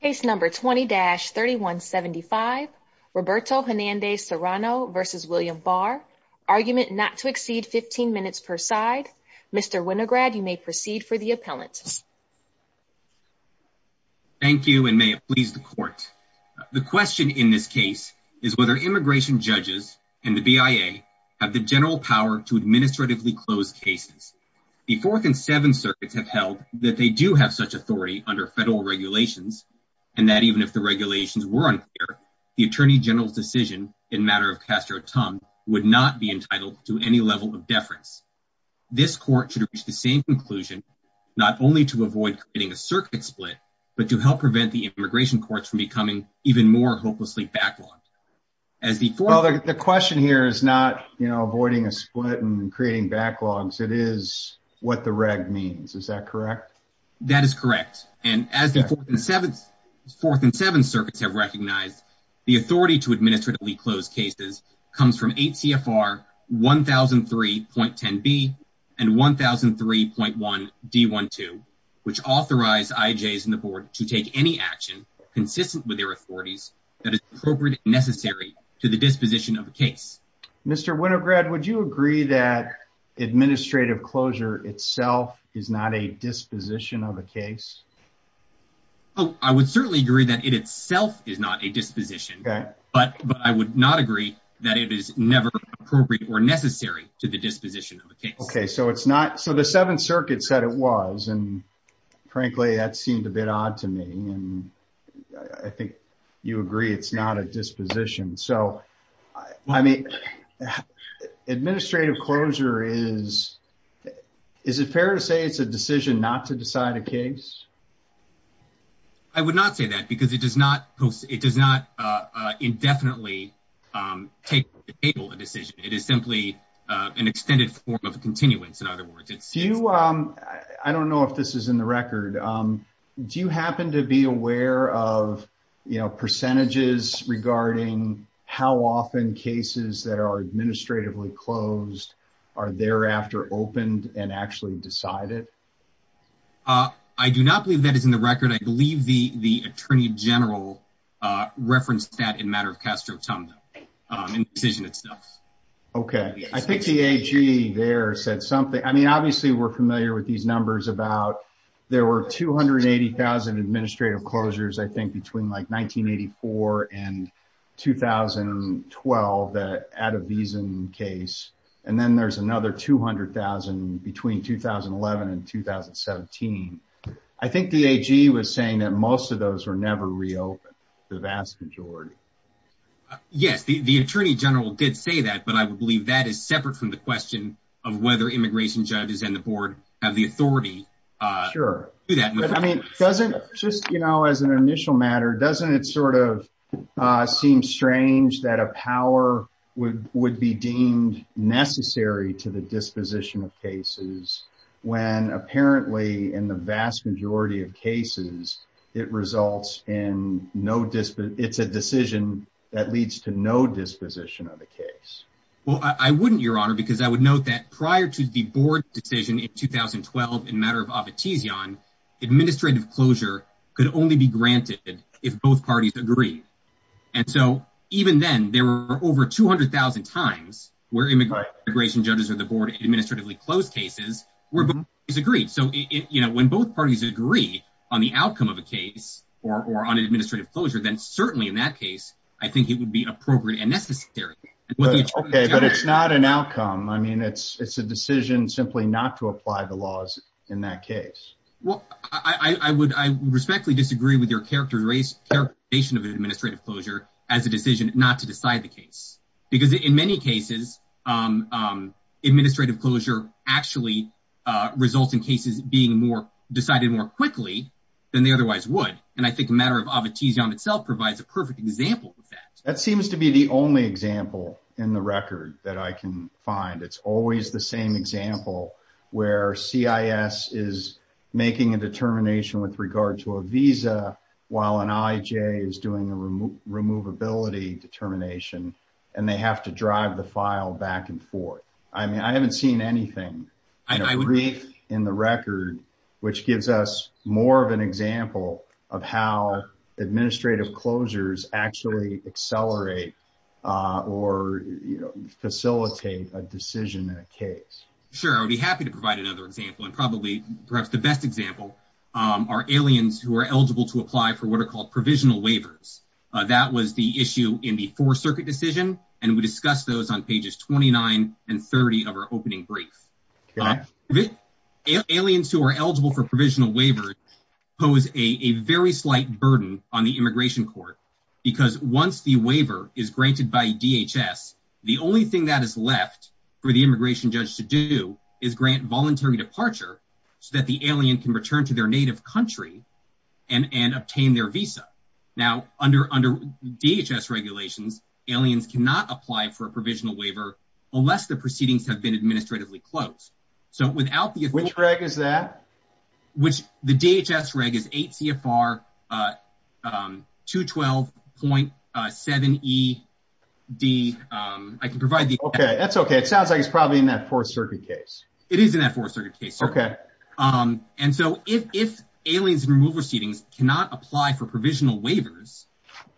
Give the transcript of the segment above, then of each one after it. Case number 20-3175, Roberto Hernandez-Serrano v. William Barr, argument not to exceed 15 minutes per side. Mr. Winograd, you may proceed for the appellant. Thank you and may it please the court. The question in this case is whether immigration judges and the BIA have the general power to administratively close cases. The fourth and even if the regulations were unclear, the Attorney General's decision in matter of Castro-Tum would not be entitled to any level of deference. This court should reach the same conclusion, not only to avoid creating a circuit split, but to help prevent the immigration courts from becoming even more hopelessly backlogged. The question here is not, you know, avoiding a split and creating backlogs. It is what the reg means. Is that correct? That is correct and as the fourth and seventh circuits have recognized, the authority to administratively close cases comes from 8 CFR 1003.10b and 1003.1d12, which authorize IJs in the board to take any action consistent with their authorities that is appropriate and necessary to the disposition of the case. Mr. Winograd, would you agree that administrative closure itself is not a case? I would certainly agree that it itself is not a disposition, but I would not agree that it is never appropriate or necessary to the disposition of a case. Okay, so it's not, so the seventh circuit said it was and frankly that seemed a bit odd to me and I think you agree it's not a disposition. So, I mean, administrative closure is, is it fair to say it's a decision not to decide a case? I would not say that because it does not indefinitely take a decision. It is simply an extended form of continuance. In other words, it's you, I don't know if this is in the record. Do you happen to be aware of, you know, percentages regarding how often cases that are I do not believe that is in the record. I believe the, the attorney general referenced that in matter of Castro-Tumdao, in the decision itself. Okay. I think the AG there said something. I mean, obviously we're familiar with these numbers about there were 280,000 administrative closures, I think between like 1984 and 2012, that Adivisin case. And then there's another 200,000 between 2011 and 2017. I think the AG was saying that most of those were never reopened, the vast majority. Yes, the attorney general did say that, but I would believe that is separate from the question of whether immigration judges and the board have the authority. Sure. I mean, doesn't just, you know, as an initial matter, doesn't it sort of seem strange that a power would, would be deemed necessary to the disposition of cases when apparently in the vast majority of cases, it results in no dispute. It's a decision that leads to no disposition of the case. Well, I wouldn't your honor, because I would note that prior to the board decision in 2012, in matter of Obitizian, administrative closure could only be granted if both parties agree. And so even then there were over 200,000 times where immigration judges or the board administratively closed cases where both parties agreed. So, you know, when both parties agree on the outcome of a case or on administrative closure, then certainly in that case, I think it would be appropriate and necessary. Okay. But it's not an outcome. I mean, it's, it's a decision simply not to apply the laws in that case. Well, I would, I respectfully disagree with your characterization of administrative closure as a decision not to decide the case, because in many cases, administrative closure actually results in cases being more decided more quickly than they otherwise would. And I think a matter of Obitizian itself provides a perfect example of that. That seems to be the only example in the record that I can find. It's always the same example where CIS is making a determination with regard to a visa while an IJ is doing a removability determination, and they have to drive the file back and forth. I mean, I haven't seen anything brief in the record, which gives us more of an example of how Sure. I would be happy to provide another example. And probably perhaps the best example are aliens who are eligible to apply for what are called provisional waivers. That was the issue in the four circuit decision. And we discussed those on pages 29 and 30 of our opening brief aliens who are eligible for provisional waivers pose a very slight burden on the immigration court, because once the waiver is granted by DHS, the only thing that is left for the immigration judge to do is grant voluntary departure so that the alien can return to their native country and obtain their visa. Now, under DHS regulations, aliens cannot apply for a provisional waiver unless the proceedings have been administratively closed. So without the Which reg is that? The DHS reg is 8 CFR 212.7ED. I can provide the Okay, that's okay. It sounds like it's probably in that fourth circuit case. It is in that fourth circuit case. Okay. And so if aliens and removal proceedings cannot apply for provisional waivers,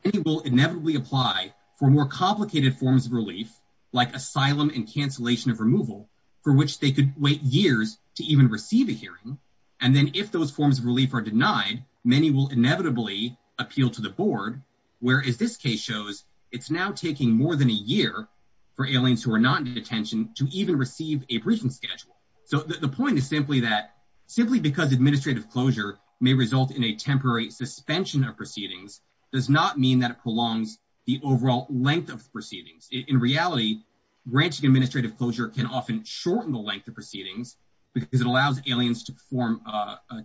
they will inevitably apply for more complicated forms of relief, like asylum and cancellation of removal, for which they could wait years to even receive a hearing. And then if those forms of relief are denied, many will inevitably appeal to the board. Whereas this case shows it's now taking more than a year for aliens who are not in detention to even receive a briefing schedule. So the point is simply that simply because administrative closure may result in a temporary suspension of proceedings does not mean that it prolongs the overall length of granting administrative closure can often shorten the length of proceedings, because it allows aliens to form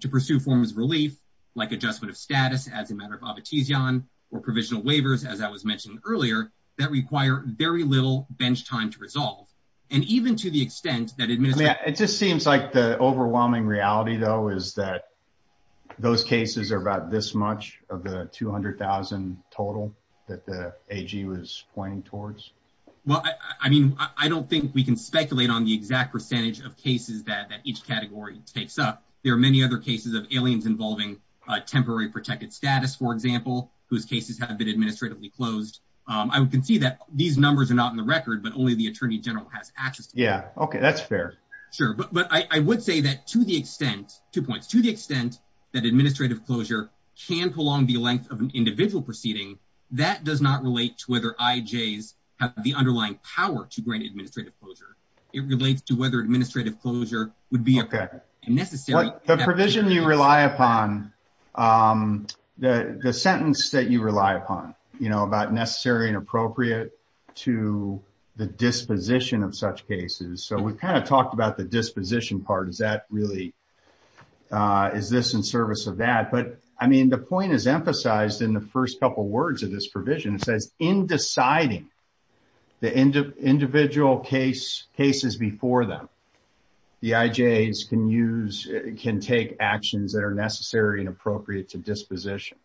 to pursue forms of relief, like adjustment of status as a matter of obituse, john, or provisional waivers, as I was mentioning earlier, that require very little bench time to resolve. And even to the extent that it just seems like the overwhelming reality, though, is that those cases are about this much of the 200,000 total that the ag was pointing towards. Well, I mean, I don't think we can speculate on the exact percentage of cases that each category takes up. There are many other cases of aliens involving temporary protected status, for example, whose cases have been administratively closed. I would concede that these numbers are not in the record, but only the Attorney General has access. Yeah, okay, that's fair. Sure. But I would say that to the extent two points to the extent that administrative closure can prolong the length of an individual proceeding, that does not relate to whether I J's have the underlying power to grant administrative closure. It relates to whether administrative closure would be a necessary provision you rely upon the sentence that you rely upon, you know, about necessary and appropriate to the disposition of such cases. So we've kind of talked about the disposition part is that really is this in service of that? But I mean, the point is emphasized in the first couple words of this provision. It says in deciding the end of individual case cases before them, the I J's can use can take actions that are necessary and appropriate to disposition.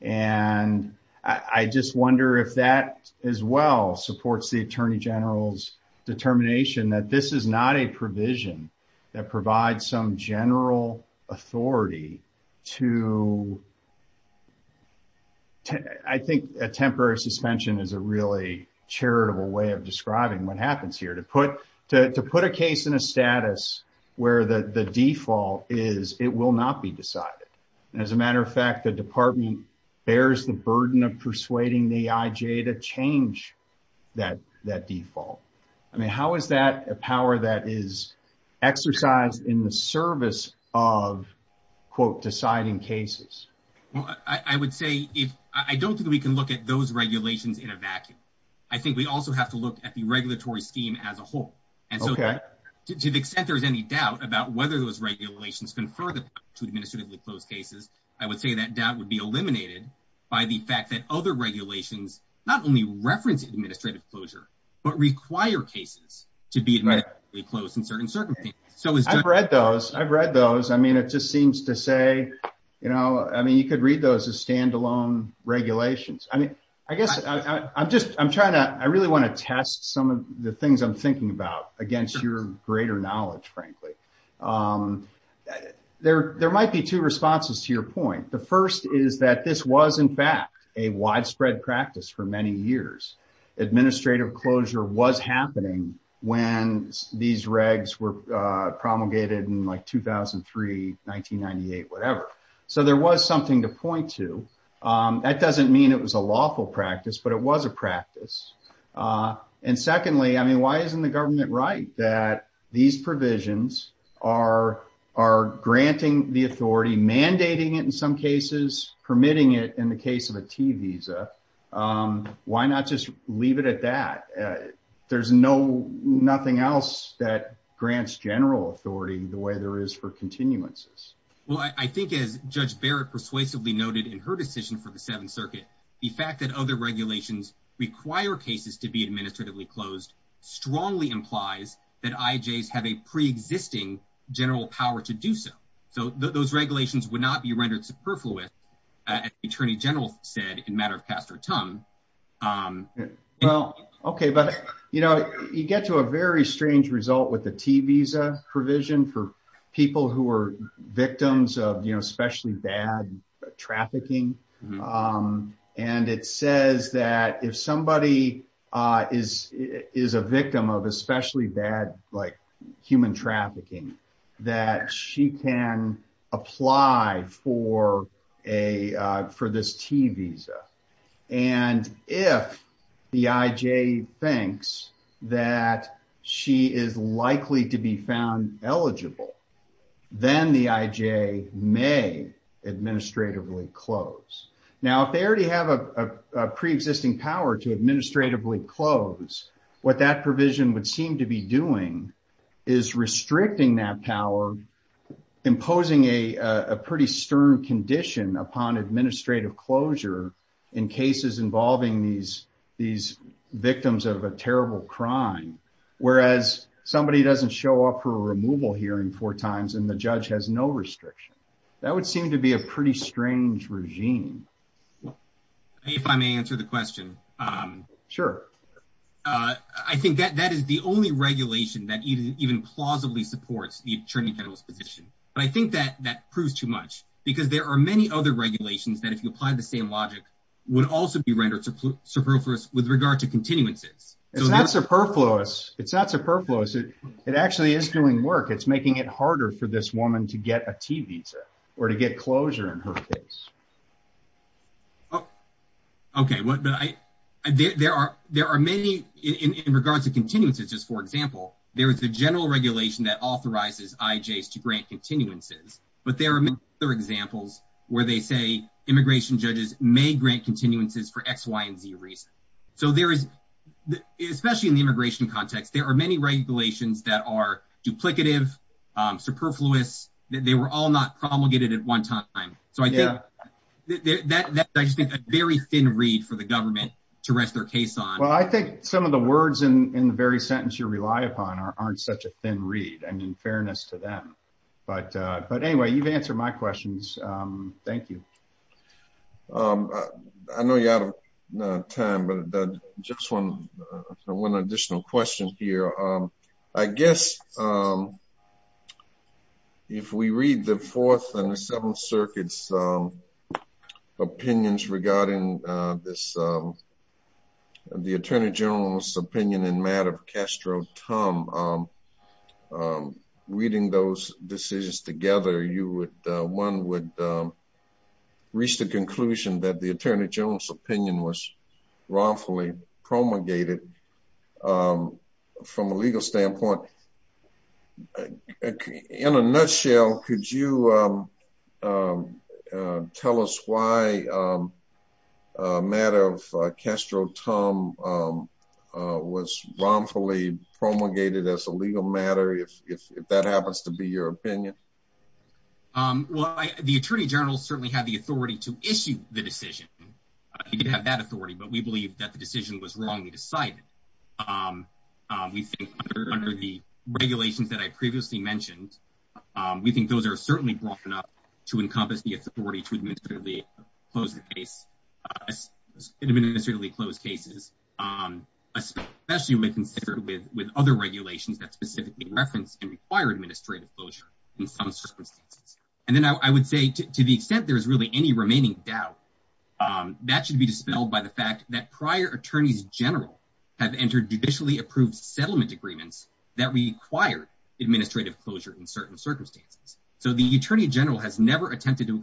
And I just wonder if that is well supports the Attorney General's determination that this is not a provision that provides some general authority to I think a temporary suspension is a really charitable way of describing what happens here to put to put a case in a status where the default is it will not be decided. And as a matter of fact, the department bears the burden of persuading the exercise in the service of quote deciding cases. Well, I would say if I don't think we can look at those regulations in a vacuum. I think we also have to look at the regulatory scheme as a whole. And so to the extent there's any doubt about whether those regulations can further to administratively closed cases, I would say that doubt would be eliminated by the fact that other regulations not only reference administrative closure, but require cases to be close in certain circumstances. I've read those. I've read those. I mean, it just seems to say, you know, I mean, you could read those as standalone regulations. I mean, I guess I'm just I'm trying to I really want to test some of the things I'm thinking about against your greater knowledge, frankly. There there might be two responses to your point. The first is that this was, in fact, a widespread practice for many years. Administrative closure was happening when these regs were promulgated in 2003, 1998, whatever. So there was something to point to. That doesn't mean it was a lawful practice, but it was a practice. And secondly, I mean, why isn't the government right that these provisions are are granting the authority, mandating it in some cases, permitting it in the case of a T visa? Why not just leave it at that? There's no nothing else that grants general authority the way there is for continuances. Well, I think, as Judge Barrett persuasively noted in her decision for the Seventh Circuit, the fact that other regulations require cases to be administratively closed strongly implies that IJs have a pre-existing general power to do so. So those regulations would be rendered superfluous, as the attorney general said in a matter of cast or tongue. Well, OK, but, you know, you get to a very strange result with the T visa provision for people who are victims of, you know, especially bad trafficking. And it says that if somebody is a victim of especially bad, like, human trafficking, that she can apply for this T visa. And if the IJ thinks that she is likely to be found eligible, then the IJ may administratively close. Now, if they already have a pre-existing power to administratively close, what that provision would seem to be doing is restricting that power, imposing a pretty stern condition upon administrative closure in cases involving these victims of a terrible crime, whereas somebody doesn't show up for a removal hearing four times and the judge has no restriction. That would seem to be a pretty strange regime. If I may answer the question. Sure. I think that that is the only regulation that even plausibly supports the attorney general's position. But I think that that proves too much, because there are many other regulations that, if you apply the same logic, would also be rendered superfluous with regard to continuances. It's not superfluous. It's not superfluous. It actually is doing work. It's making it harder for this woman to get a T visa or to get closure in her case. Okay. There are many, in regards to continuances, just for example, there is a general regulation that authorizes IJs to grant continuances, but there are many other examples where they say immigration judges may grant continuances for X, Y, and Z reasons. So there is, especially in the immigration context, there are many regulations that are duplicative, superfluous, they were all not promulgated at one time. So I think that I just think a very thin reed for the government to rest their case on. Well, I think some of the words in the very sentence you rely upon aren't such a thin reed, and in fairness to But anyway, you've answered my questions. Thank you. I know you're out of time, but just one additional question here. I guess if we read the Fourth and the Seventh Circuit's opinions regarding the Attorney General's opinion in Madoff-Castro-Tum, reading those decisions together, one would reach the conclusion that the Attorney General's opinion was wrongfully promulgated from a legal standpoint. In a nutshell, could you tell us why Madoff-Castro-Tum was wrongfully promulgated as a legal matter, if that happens to be your opinion? Well, the Attorney General certainly had the authority to issue the decision. He did have that authority, but we believe that the decision was wrongly decided. We think under the regulations that I previously mentioned, we think those are certainly broad enough to encompass the authority to administratively close cases, especially when considered with other regulations that specifically reference and require administrative closure in some circumstances. And then I would say to the extent there is really any remaining doubt, that should be dispelled by the fact that prior Attorneys General have entered judicially approved settlement agreements that require administrative closure in certain circumstances. So the Attorney General has never attempted to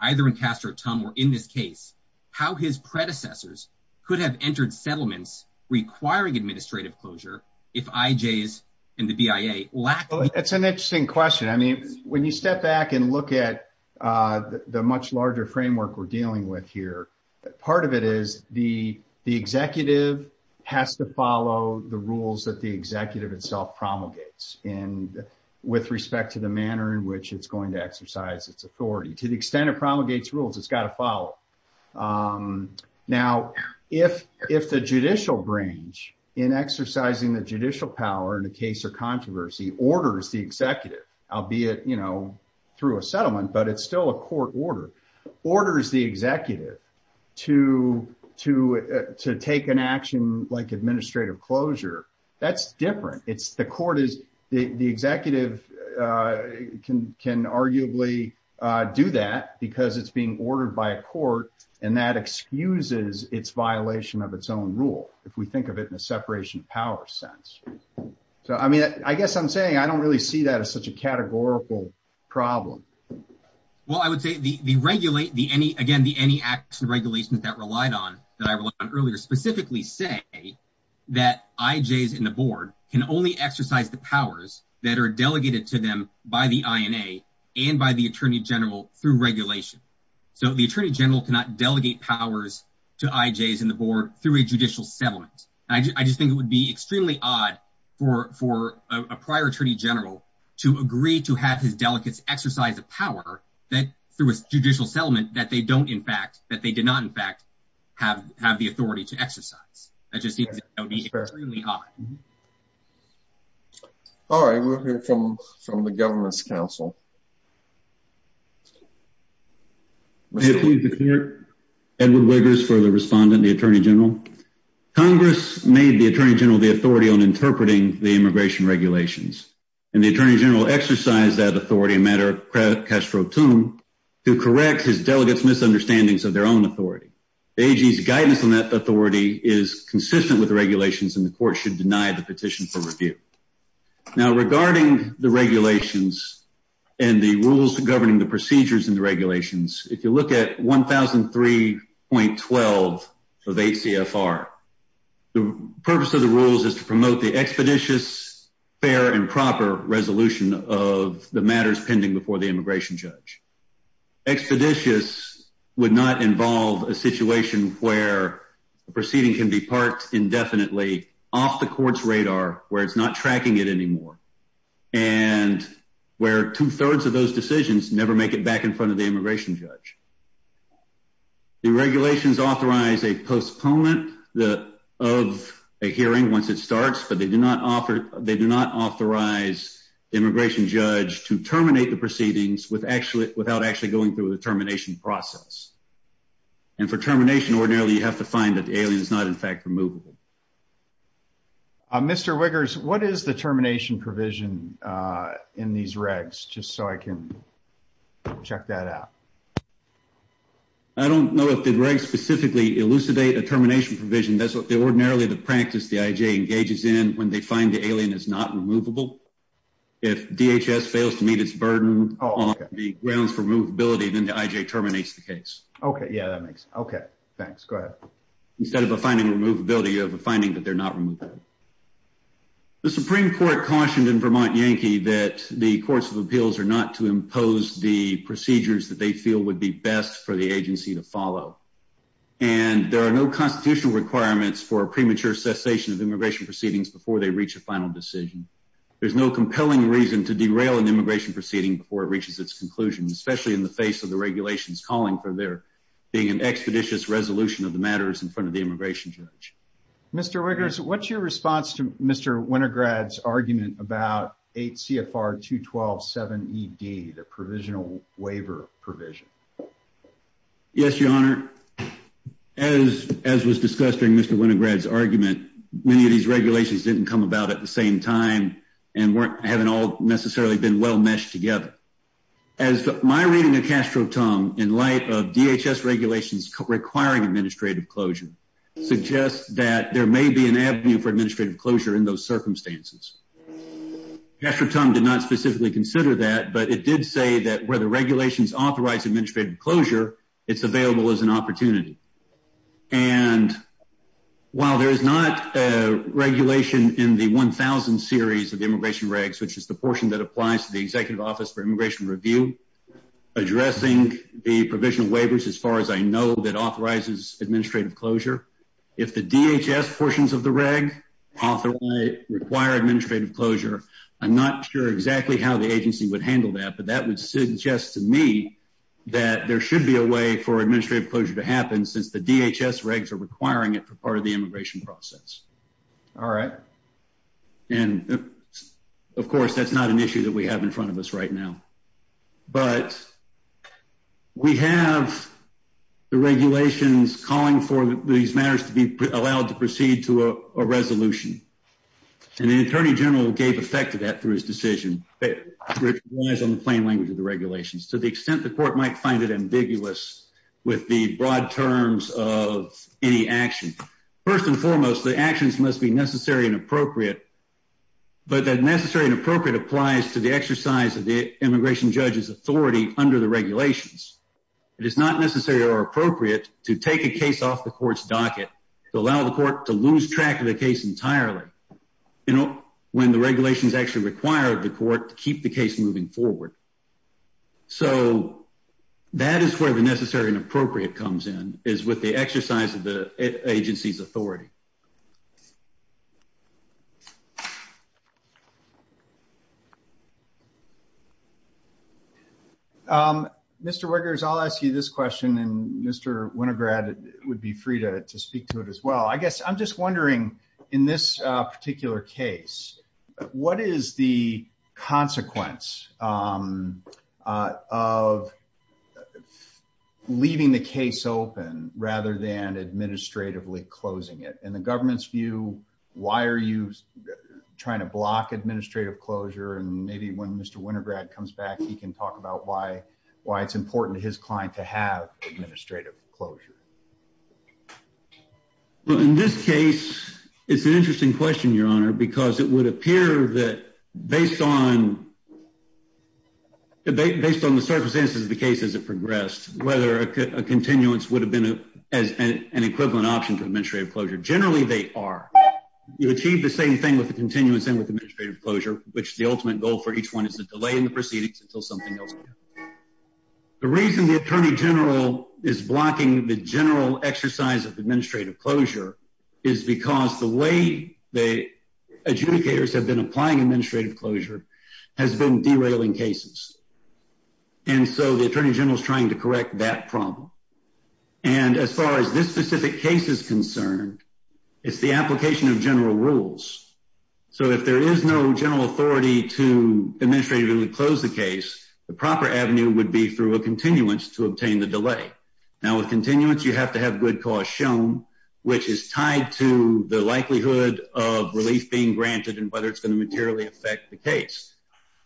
either in Castro-Tum or in this case, how his predecessors could have entered settlements requiring administrative closure, if IJs and the BIA lack. That's an interesting question. I mean, when you step back and look at the much larger framework we're dealing with here, part of it is the executive has to follow the rules that the executive itself promulgates. And with respect to the manner in which it's going to exercise its authority, to the extent it promulgates rules, it's got to follow. Now, if the judicial branch in exercising the judicial power in a case of controversy orders the executive, albeit through a settlement, but it's still a court order, orders the executive to take an action like administrative closure, that's different. It's the court is, the executive can arguably do that because it's being ordered by a court and that excuses its violation of its own rule, if we think of it in a separation of power sense. So, I mean, I guess I'm saying I don't really see that as such a categorical problem. Well, I would say the regulate, the any, again, the any acts and regulations that relied on, that I relied on earlier, specifically say that IJs in the board can only exercise the powers that are delegated to them by the INA and by the attorney general through regulation. So, the attorney general cannot delegate powers to IJs in the board through a judicial settlement. I just think it would be extremely odd for a prior attorney general to agree to have his delegates exercise the power that through a judicial settlement that they don't, in fact, that they did not, in fact, have the authority to exercise. That just seems extremely odd. All right, we'll hear from the government's counsel. Edward Wiggers for the respondent, the attorney general. Congress made the attorney general the authority on interpreting the immigration regulations and the attorney general exercised that authority in matter of Castro-Tum to correct his delegates' misunderstandings of their own authority. The IJ's guidance on that authority is consistent with the regulations and the court should deny the petition for review. Now, regarding the regulations and the rules governing the procedures in the regulations, if you look at 1003.12 of ACFR, the purpose of the rules is to promote the expeditious, fair, and proper resolution of the matters pending before the immigration judge. Expeditious would not involve a situation where a proceeding can be parked indefinitely off the court's radar where it's not tracking it anymore and where two-thirds of those decisions never make it back in front of the immigration judge. The regulations authorize a postponement of a hearing once it starts, but they do not authorize the immigration judge to terminate the proceedings without actually going through the termination process. And for termination, ordinarily you have to find that the alien is not, in fact, removable. Mr. Wiggers, what is the termination provision in these regs, just so I can check that out? I don't know if the regs specifically elucidate a termination provision. That's what the ordinarily the practice the IJ engages in when they find the alien is not removable. If DHS fails to meet its burden on the grounds for removability, then the IJ terminates the case. Okay, yeah, that makes sense. Okay, thanks. Go ahead. Instead of a finding removability, you have a finding that they're not removable. The Supreme Court cautioned in Vermont Yankee that the courts of appeals are not to impose the procedures that they feel would be best for the agency to follow. And there are no constitutional requirements for a premature cessation of immigration proceedings before they reach a final decision. There's no compelling reason to derail an immigration proceeding before it reaches its conclusion, especially in the face of the regulations calling for there being an expeditious resolution of the matters in front of the immigration judge. Mr. Riggers, what's your response to Mr. Winograd's argument about 8 CFR 212.7ED, the provisional waiver provision? Yes, your honor. As was discussed during Mr. Winograd's argument, many of these regulations didn't come about at the same time and weren't, haven't all necessarily been well meshed together. As my reading of Castro-Tung in light of DHS regulations requiring administrative closure suggests that there may be an avenue for administrative closure in those circumstances. Castro-Tung did not specifically consider that, but it did say that where the regulations authorize administrative closure, it's available as an opportunity. And while there is not a regulation in the 1000 series of immigration regs, which is the portion that applies to the executive office for immigration review, addressing the provisional as far as I know that authorizes administrative closure. If the DHS portions of the reg require administrative closure, I'm not sure exactly how the agency would handle that, but that would suggest to me that there should be a way for administrative closure to happen since the DHS regs are requiring it for part of the immigration process. All right. And of course, that's not an issue that we have in front of us right now, but we have the regulations calling for these matters to be allowed to proceed to a resolution. And the attorney general gave effect to that through his decision on the plain language of the regulations to the extent the court might find it ambiguous with the broad terms of any action. First and foremost, the actions must be necessary and appropriate applies to the exercise of the immigration judge's authority under the regulations. It is not necessary or appropriate to take a case off the court's docket to allow the court to lose track of the case entirely. You know, when the regulations actually require the court to keep the case moving forward. So that is where the necessary and appropriate comes in, is with the exercise of the agency's authority. Mr. Wiggers, I'll ask you this question and Mr. Winograd would be free to speak to it as well. I guess I'm just wondering in this particular case, what is the consequence of leaving the case open rather than administratively closing it? In the government's view, why are you trying to block administrative closure? And maybe when Mr. Winograd comes back, he can talk about why it's important to his client to have administrative closure. In this case, it's an interesting question, Your Honor, because it would appear that based on the circumstances of the case as it progressed, whether a continuance would have been an equivalent option to administrative closure. Generally, they are. You achieve the same thing with the continuance and with administrative closure, which the ultimate goal for each one is to delay in the proceedings until something else. The reason the Attorney General is blocking the general exercise of administrative closure is because the way the adjudicators have been and so the Attorney General is trying to correct that problem. And as far as this specific case is concerned, it's the application of general rules. So, if there is no general authority to administratively close the case, the proper avenue would be through a continuance to obtain the delay. Now, with continuance, you have to have good cause shown, which is tied to the likelihood of relief being granted and whether it's going to materially affect the case.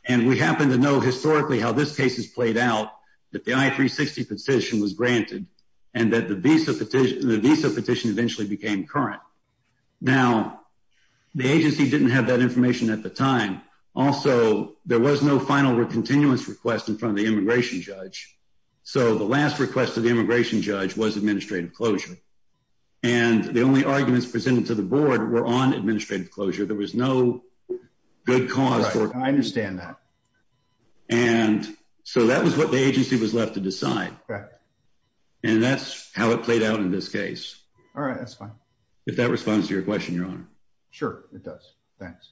And we happen to know historically how this case has played out, that the I-360 petition was granted and that the visa petition eventually became current. Now, the agency didn't have that information at the time. Also, there was no final continuance request in front of the immigration judge. So, the last request of the immigration judge was administrative closure. And the only arguments presented to the board were on administrative closure. There was no good cause for it. I understand that. And so, that was what the agency was left to decide. Correct. And that's how it played out in this case. All right, that's fine. If that responds to your question, Your Honor. Sure, it does. Thanks.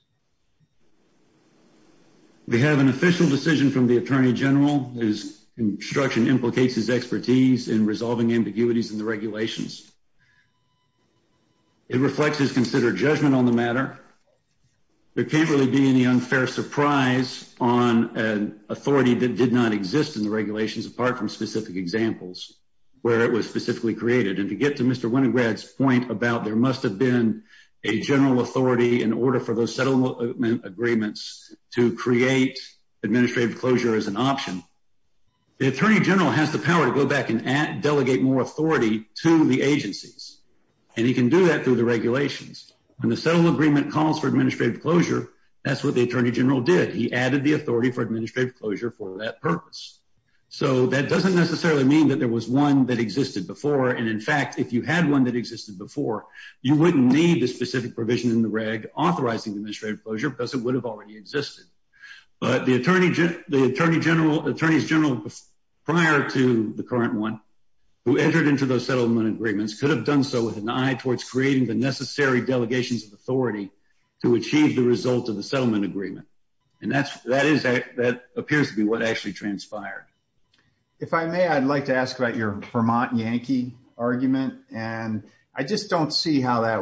We have an official decision from the Attorney General whose instruction implicates his expertise in resolving ambiguities in the regulations. It reflects his considered judgment on the matter. There can't really be any unfair surprise on an authority that did not exist in the regulations apart from specific examples where it was specifically created. And to get to Mr. Winograd's point about there must have been a general authority in order for those settlement agreements to create administrative closure as an delegate more authority to the agencies. And he can do that through the regulations. When the settlement agreement calls for administrative closure, that's what the Attorney General did. He added the authority for administrative closure for that purpose. So, that doesn't necessarily mean that there was one that existed before. And in fact, if you had one that existed before, you wouldn't need the specific provision in the reg authorizing administrative closure because it would have already existed. But the Attorney General prior to the current one who entered into those settlement agreements could have done so with an eye towards creating the necessary delegations of authority to achieve the result of the settlement agreement. And that appears to be what actually transpired. If I may, I'd like to ask about your Vermont Yankee argument. And I just don't see how that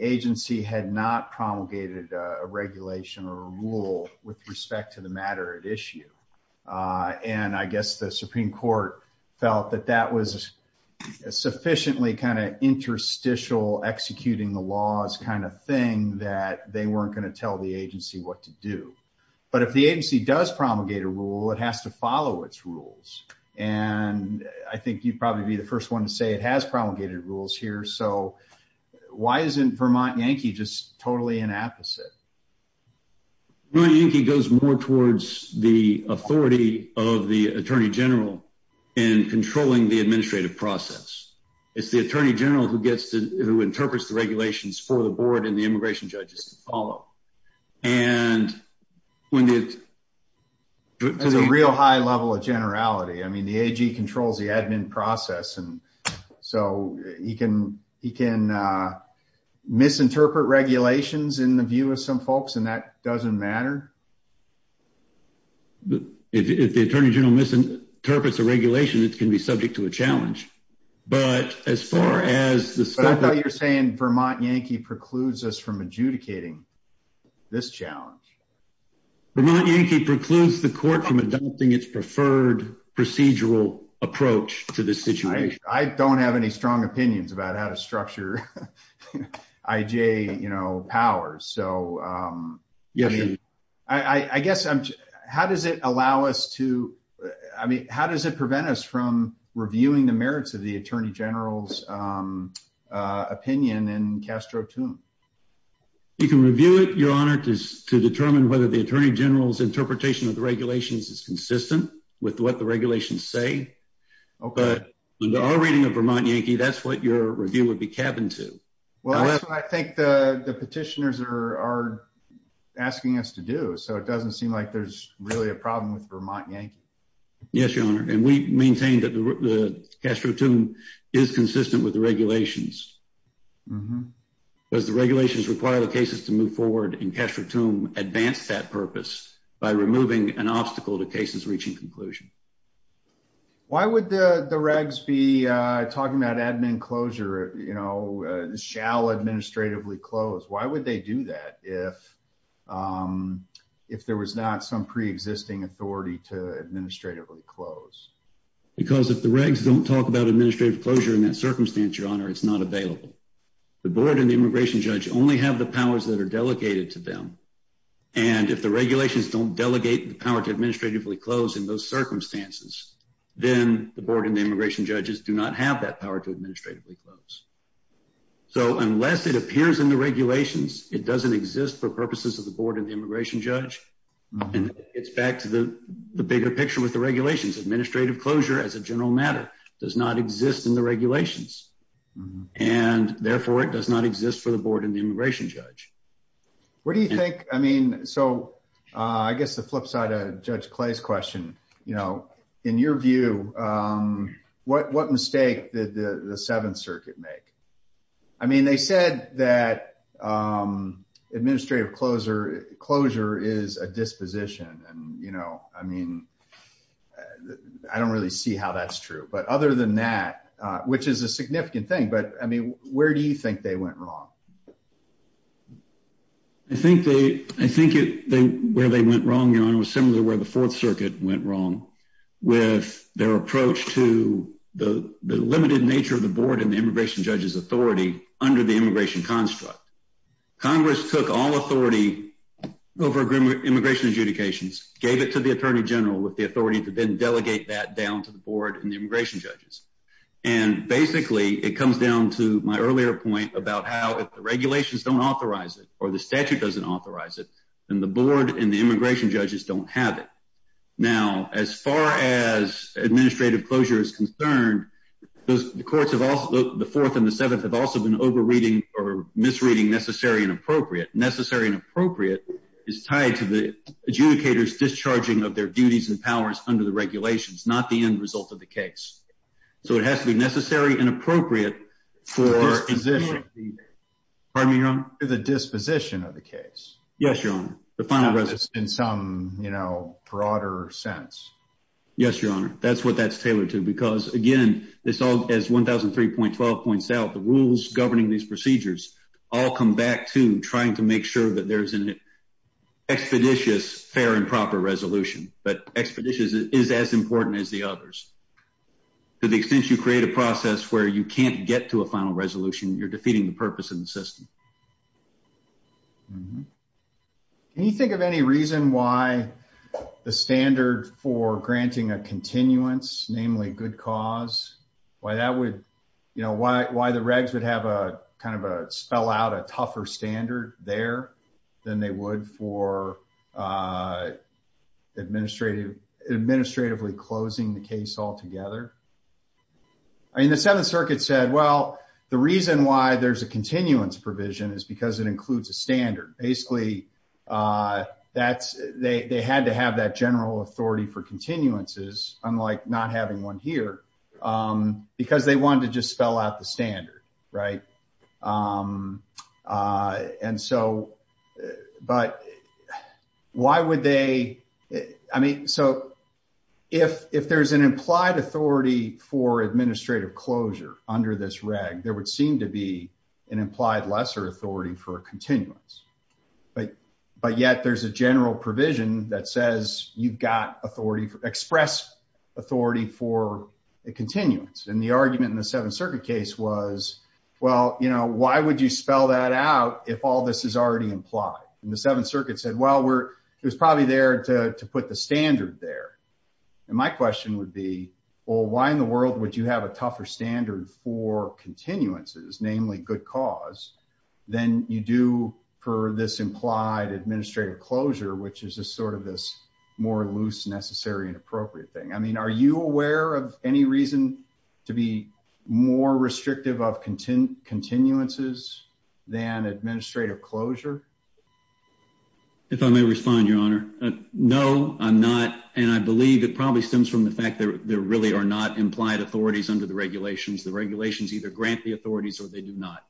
agency had not promulgated a regulation or a rule with respect to the matter at issue. And I guess the Supreme Court felt that that was a sufficiently kind of interstitial executing the laws kind of thing that they weren't going to tell the agency what to do. But if the agency does promulgate a rule, it has to follow its rules. And I think you'd probably be the first one to say it has promulgated rules here. So why isn't Vermont Yankee just totally inapposite? Vermont Yankee goes more towards the authority of the Attorney General in controlling the administrative process. It's the Attorney General who gets to, who interprets the regulations for the board and the immigration judges to follow. And when the- There's a real high level of generality. I mean, the AG controls the admin process. So he can misinterpret regulations in the view of some folks, and that doesn't matter. If the Attorney General misinterprets a regulation, it can be subject to a challenge. But as far as the- But I thought you were saying Vermont Yankee precludes us from adjudicating this challenge. Vermont Yankee precludes the court from adopting its preferred procedural approach to this situation. I don't have any strong opinions about how to structure IJ powers. So I guess I'm just- How does it allow us to- I mean, how does it prevent us from reviewing the merits of the Attorney General's opinion in Castro Tune? You can review it, Your Honor, to determine whether the Attorney General's interpretation of the regulations is consistent with what the regulations say. But in our reading of Vermont Yankee, that's what your review would be cabined to. Well, that's what I think the petitioners are asking us to do. So it doesn't seem like there's really a problem with Vermont Yankee. Yes, Your Honor. And we maintain that the Castro Tune is consistent with the regulations. Does the regulations require the cases to move forward in Castro Tune advance that purpose by removing an obstacle to cases reaching conclusion? Why would the regs be talking about admin closure, you know, shall administratively close? Why would they do that if there was not some pre-existing authority to administratively close? Because if the regs don't talk about administrative closure in that circumstance, Your Honor, it's not available. The board and the immigration judge only have the powers that are delegated to them. And if the regulations don't delegate the power to administratively close in those circumstances, then the board and the immigration judges do not have that power to administratively close. So unless it appears in the regulations, it doesn't exist for purposes of the board and the immigration judge. And it's back to the bigger picture with the regulations. Administrative closure as a general matter does not exist in the regulations. And therefore, it does not exist for the board and the immigration judge. What do you think? I mean, so I guess the flip side of Judge Clay's question, you know, in your view, what mistake did the Seventh Circuit make? I mean, they said that administrative closure is a disposition. And, you know, I mean, I don't really see how that's true. But other than that, which is a significant thing, but I mean, where do you think they went wrong? I think where they went wrong, Your Honor, was similar to where the Fourth Circuit went wrong with their approach to the limited nature of the board and the immigration judge's authority under the immigration construct. Congress took all authority over immigration adjudications, gave it to the Attorney General with the authority to then delegate that down to the board and the immigration judges. And basically, it comes down to my earlier point about how if the regulations don't authorize it, or the statute doesn't authorize it, then the board and the immigration judges don't have it. Now, as far as administrative closure is concerned, the Fourth and the Seventh have also been over-reading or misreading necessary and appropriate. Necessary and appropriate is tied to the adjudicators discharging of their duties and powers under the regulations, not the end result of the case. So it has to be necessary and the disposition of the case. Yes, Your Honor. In some broader sense. Yes, Your Honor. That's what that's tailored to because, again, as 1003.12 points out, the rules governing these procedures all come back to trying to make sure that there's an expeditious fair and proper resolution. But expeditious is as important as the others. To the extent you create a process where you can't to a final resolution, you're defeating the purpose of the system. Can you think of any reason why the standard for granting a continuance, namely good cause, why that would, you know, why the regs would have a kind of a spell out a tougher standard there than they would for administratively closing the case altogether? I mean, the Seventh Circuit said, well, the reason why there's a continuance provision is because it includes a standard. Basically, that's they had to have that general authority for continuances, unlike not having one here, because they wanted to just spell out the standard. Right. And so but why would they? I mean, so if if there's an implied authority for administrative closure under this reg, there would seem to be an implied lesser authority for continuance. But but yet there's a general provision that says you've got authority for authority for a continuance. And the argument in the Seventh Circuit case was, well, you know, why would you spell that out if all this is already implied? And the Seventh Circuit said, well, we're it was probably there to put the standard there. And my question would be, well, why in the world would you have a tougher standard for continuances, namely good cause than you do for this implied administrative closure, which is a sort of this more loose, necessary and appropriate thing? I mean, are you aware of any reason to be more restrictive of content continuances than administrative closure? If I may respond, Your Honor. No, I'm not. And I believe it probably stems from the fact that there really are not implied authorities under the regulations. The regulations either grant the authorities or they do not.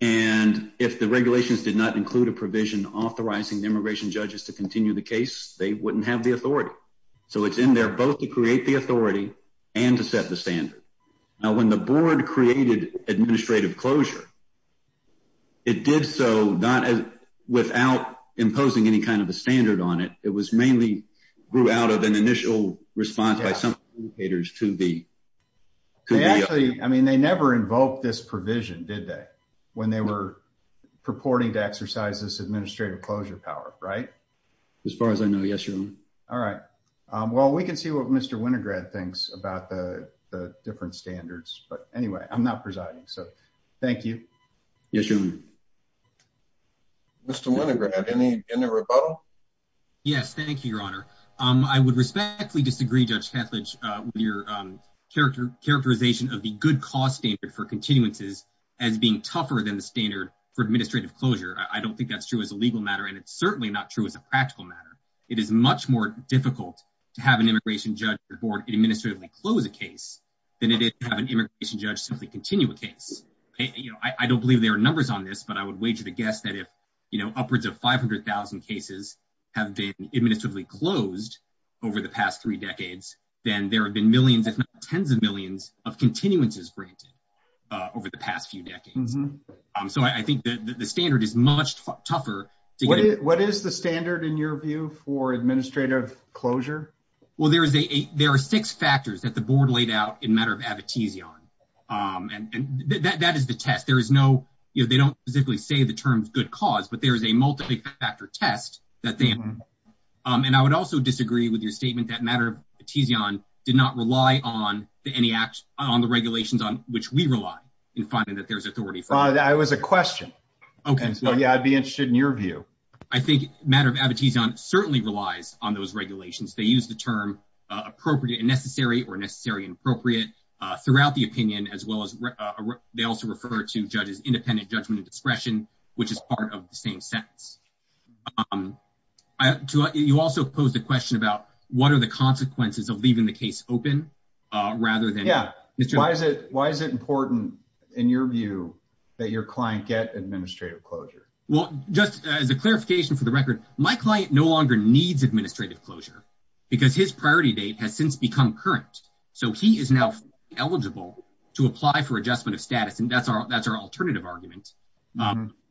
And if the regulations did not include a provision authorizing immigration judges to continue the case, they wouldn't have the authority. So it's in there both to create the authority and to set the standard. Now, when the board created administrative closure, it did so not as without imposing any kind of a standard on it. It was mainly grew out of an initial response by some educators to the. Actually, I mean, they never invoked this power, right? As far as I know, yes. All right. Well, we can see what Mr. Winograd thinks about the different standards. But anyway, I'm not presiding. So thank you. Yes. Mr. Winograd, any in the rebuttal? Yes. Thank you, Your Honor. I would respectfully disagree, Judge Ketledge, with your character characterization of the good cost standard for continuances as being tougher than the standard for administrative closure. I don't think that's true as a legal matter, and it's certainly not true as a practical matter. It is much more difficult to have an immigration judge or board administratively close a case than it is to have an immigration judge simply continue a case. I don't believe there are numbers on this, but I would wager to guess that if upwards of 500,000 cases have been administratively closed over the past three decades, then there have been millions, if not tens of millions, of continuances granted over the past few decades. So I think that the What is the standard, in your view, for administrative closure? Well, there are six factors that the board laid out in matter of abetezion, and that is the test. They don't specifically say the term good cause, but there is a multi-factor test that they have. And I would also disagree with your statement that matter of abetezion did not rely on any act on the regulations on which we rely in finding that there's authority. I was a question. Okay, so yeah, I'd be interested in your view. I think matter of abetezion certainly relies on those regulations. They use the term appropriate and necessary or necessary and appropriate throughout the opinion as well as they also refer to judges independent judgment and discretion, which is part of the same sentence. You also posed a question about what are the consequences of leaving the case open, rather than. Yeah, why is it important, in your view, that your client get administrative closure? Well, just as a clarification for the record, my client no longer needs administrative closure, because his priority date has since become current. So he is now eligible to apply for adjustment of status. And that's our alternative argument.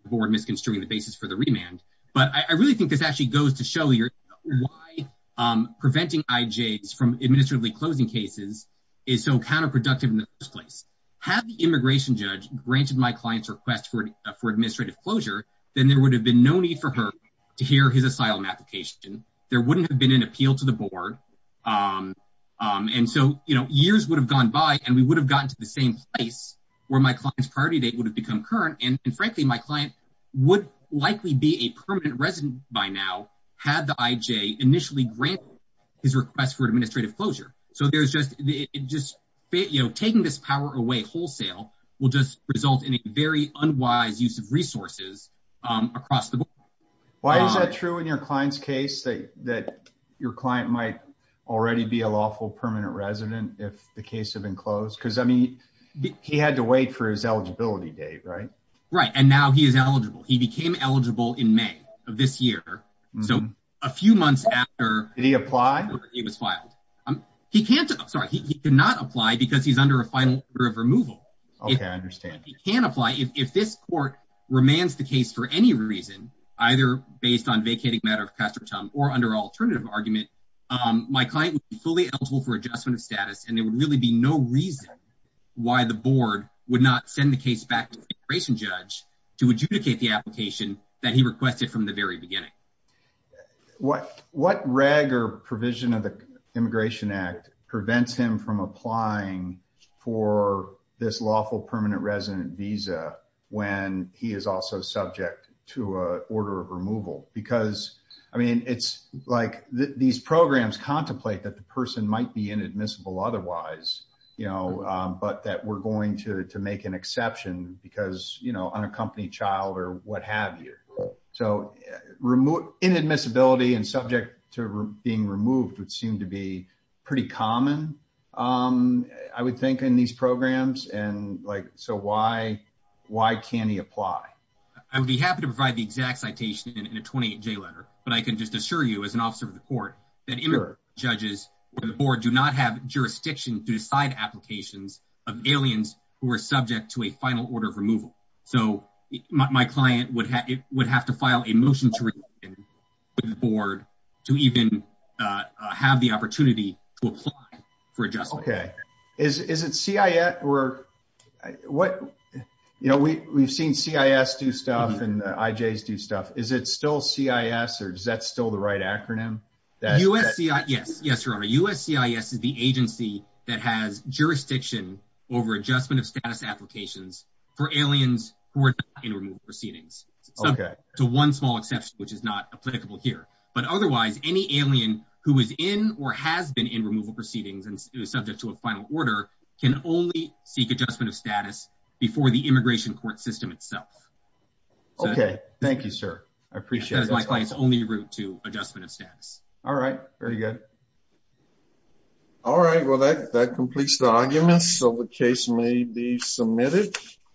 Board misconstruing the basis for the remand. But I really think this actually goes to show you why preventing IJs from administratively closing cases is so counterproductive in the first place. Had the immigration judge granted my client's request for for administrative closure, then there would have been no need for her to hear his asylum application. There wouldn't have been an appeal to the board. And so, you know, years would have gone by and we would have gotten to the same place where my client's priority date would have become current. And frankly, my client would likely be a permanent resident by now had the IJ initially granted his request for administrative closure. So there's just it just, you know, taking this power away wholesale will just result in a very unwise use of resources across the board. Why is that true in your client's case that your client might already be a lawful permanent resident if the case had been closed? Because I mean, he had to wait for his eligibility date, right? Right. And now he is eligible. He became eligible in May of this year. So a few months after he applied, he was filed. He can't. Sorry. He cannot apply because he's under a final order of removal. OK, I understand. He can apply if this court remains the case for any reason, either based on vacating matter of custom or under alternative argument. My client was fully eligible for adjustment of status, and there would really be no reason why the board would not send the case back to the immigration judge to adjudicate the application that he reg or provision of the Immigration Act prevents him from applying for this lawful permanent resident visa when he is also subject to a order of removal? Because, I mean, it's like these programs contemplate that the person might be inadmissible otherwise, you know, but that we're going to make an exception because, you know, unaccompanied child or what have you. So remove inadmissibility and subject to being removed would seem to be pretty common, I would think, in these programs. And like so why why can't he apply? I would be happy to provide the exact citation in a 28 J letter, but I can just assure you as an officer of the court that judges or do not have jurisdiction to decide applications of aliens who are subject to a file a motion to the board to even have the opportunity to apply for adjustment. Okay, is it CIA or what? You know, we've seen CIS do stuff and IJs do stuff. Is it still CIS? Or is that still the right acronym? USC? Yes, yes, your honor. USC is the agency that has jurisdiction over adjustment of status for aliens who are not in removal proceedings. Okay, to one small exception, which is not applicable here. But otherwise, any alien who is in or has been in removal proceedings and subject to a final order can only seek adjustment of status before the immigration court system itself. Okay, thank you, sir. I appreciate my clients only route to adjustment of status. All right, very good. All right, well, that completes the argument. So the case may be adjourned.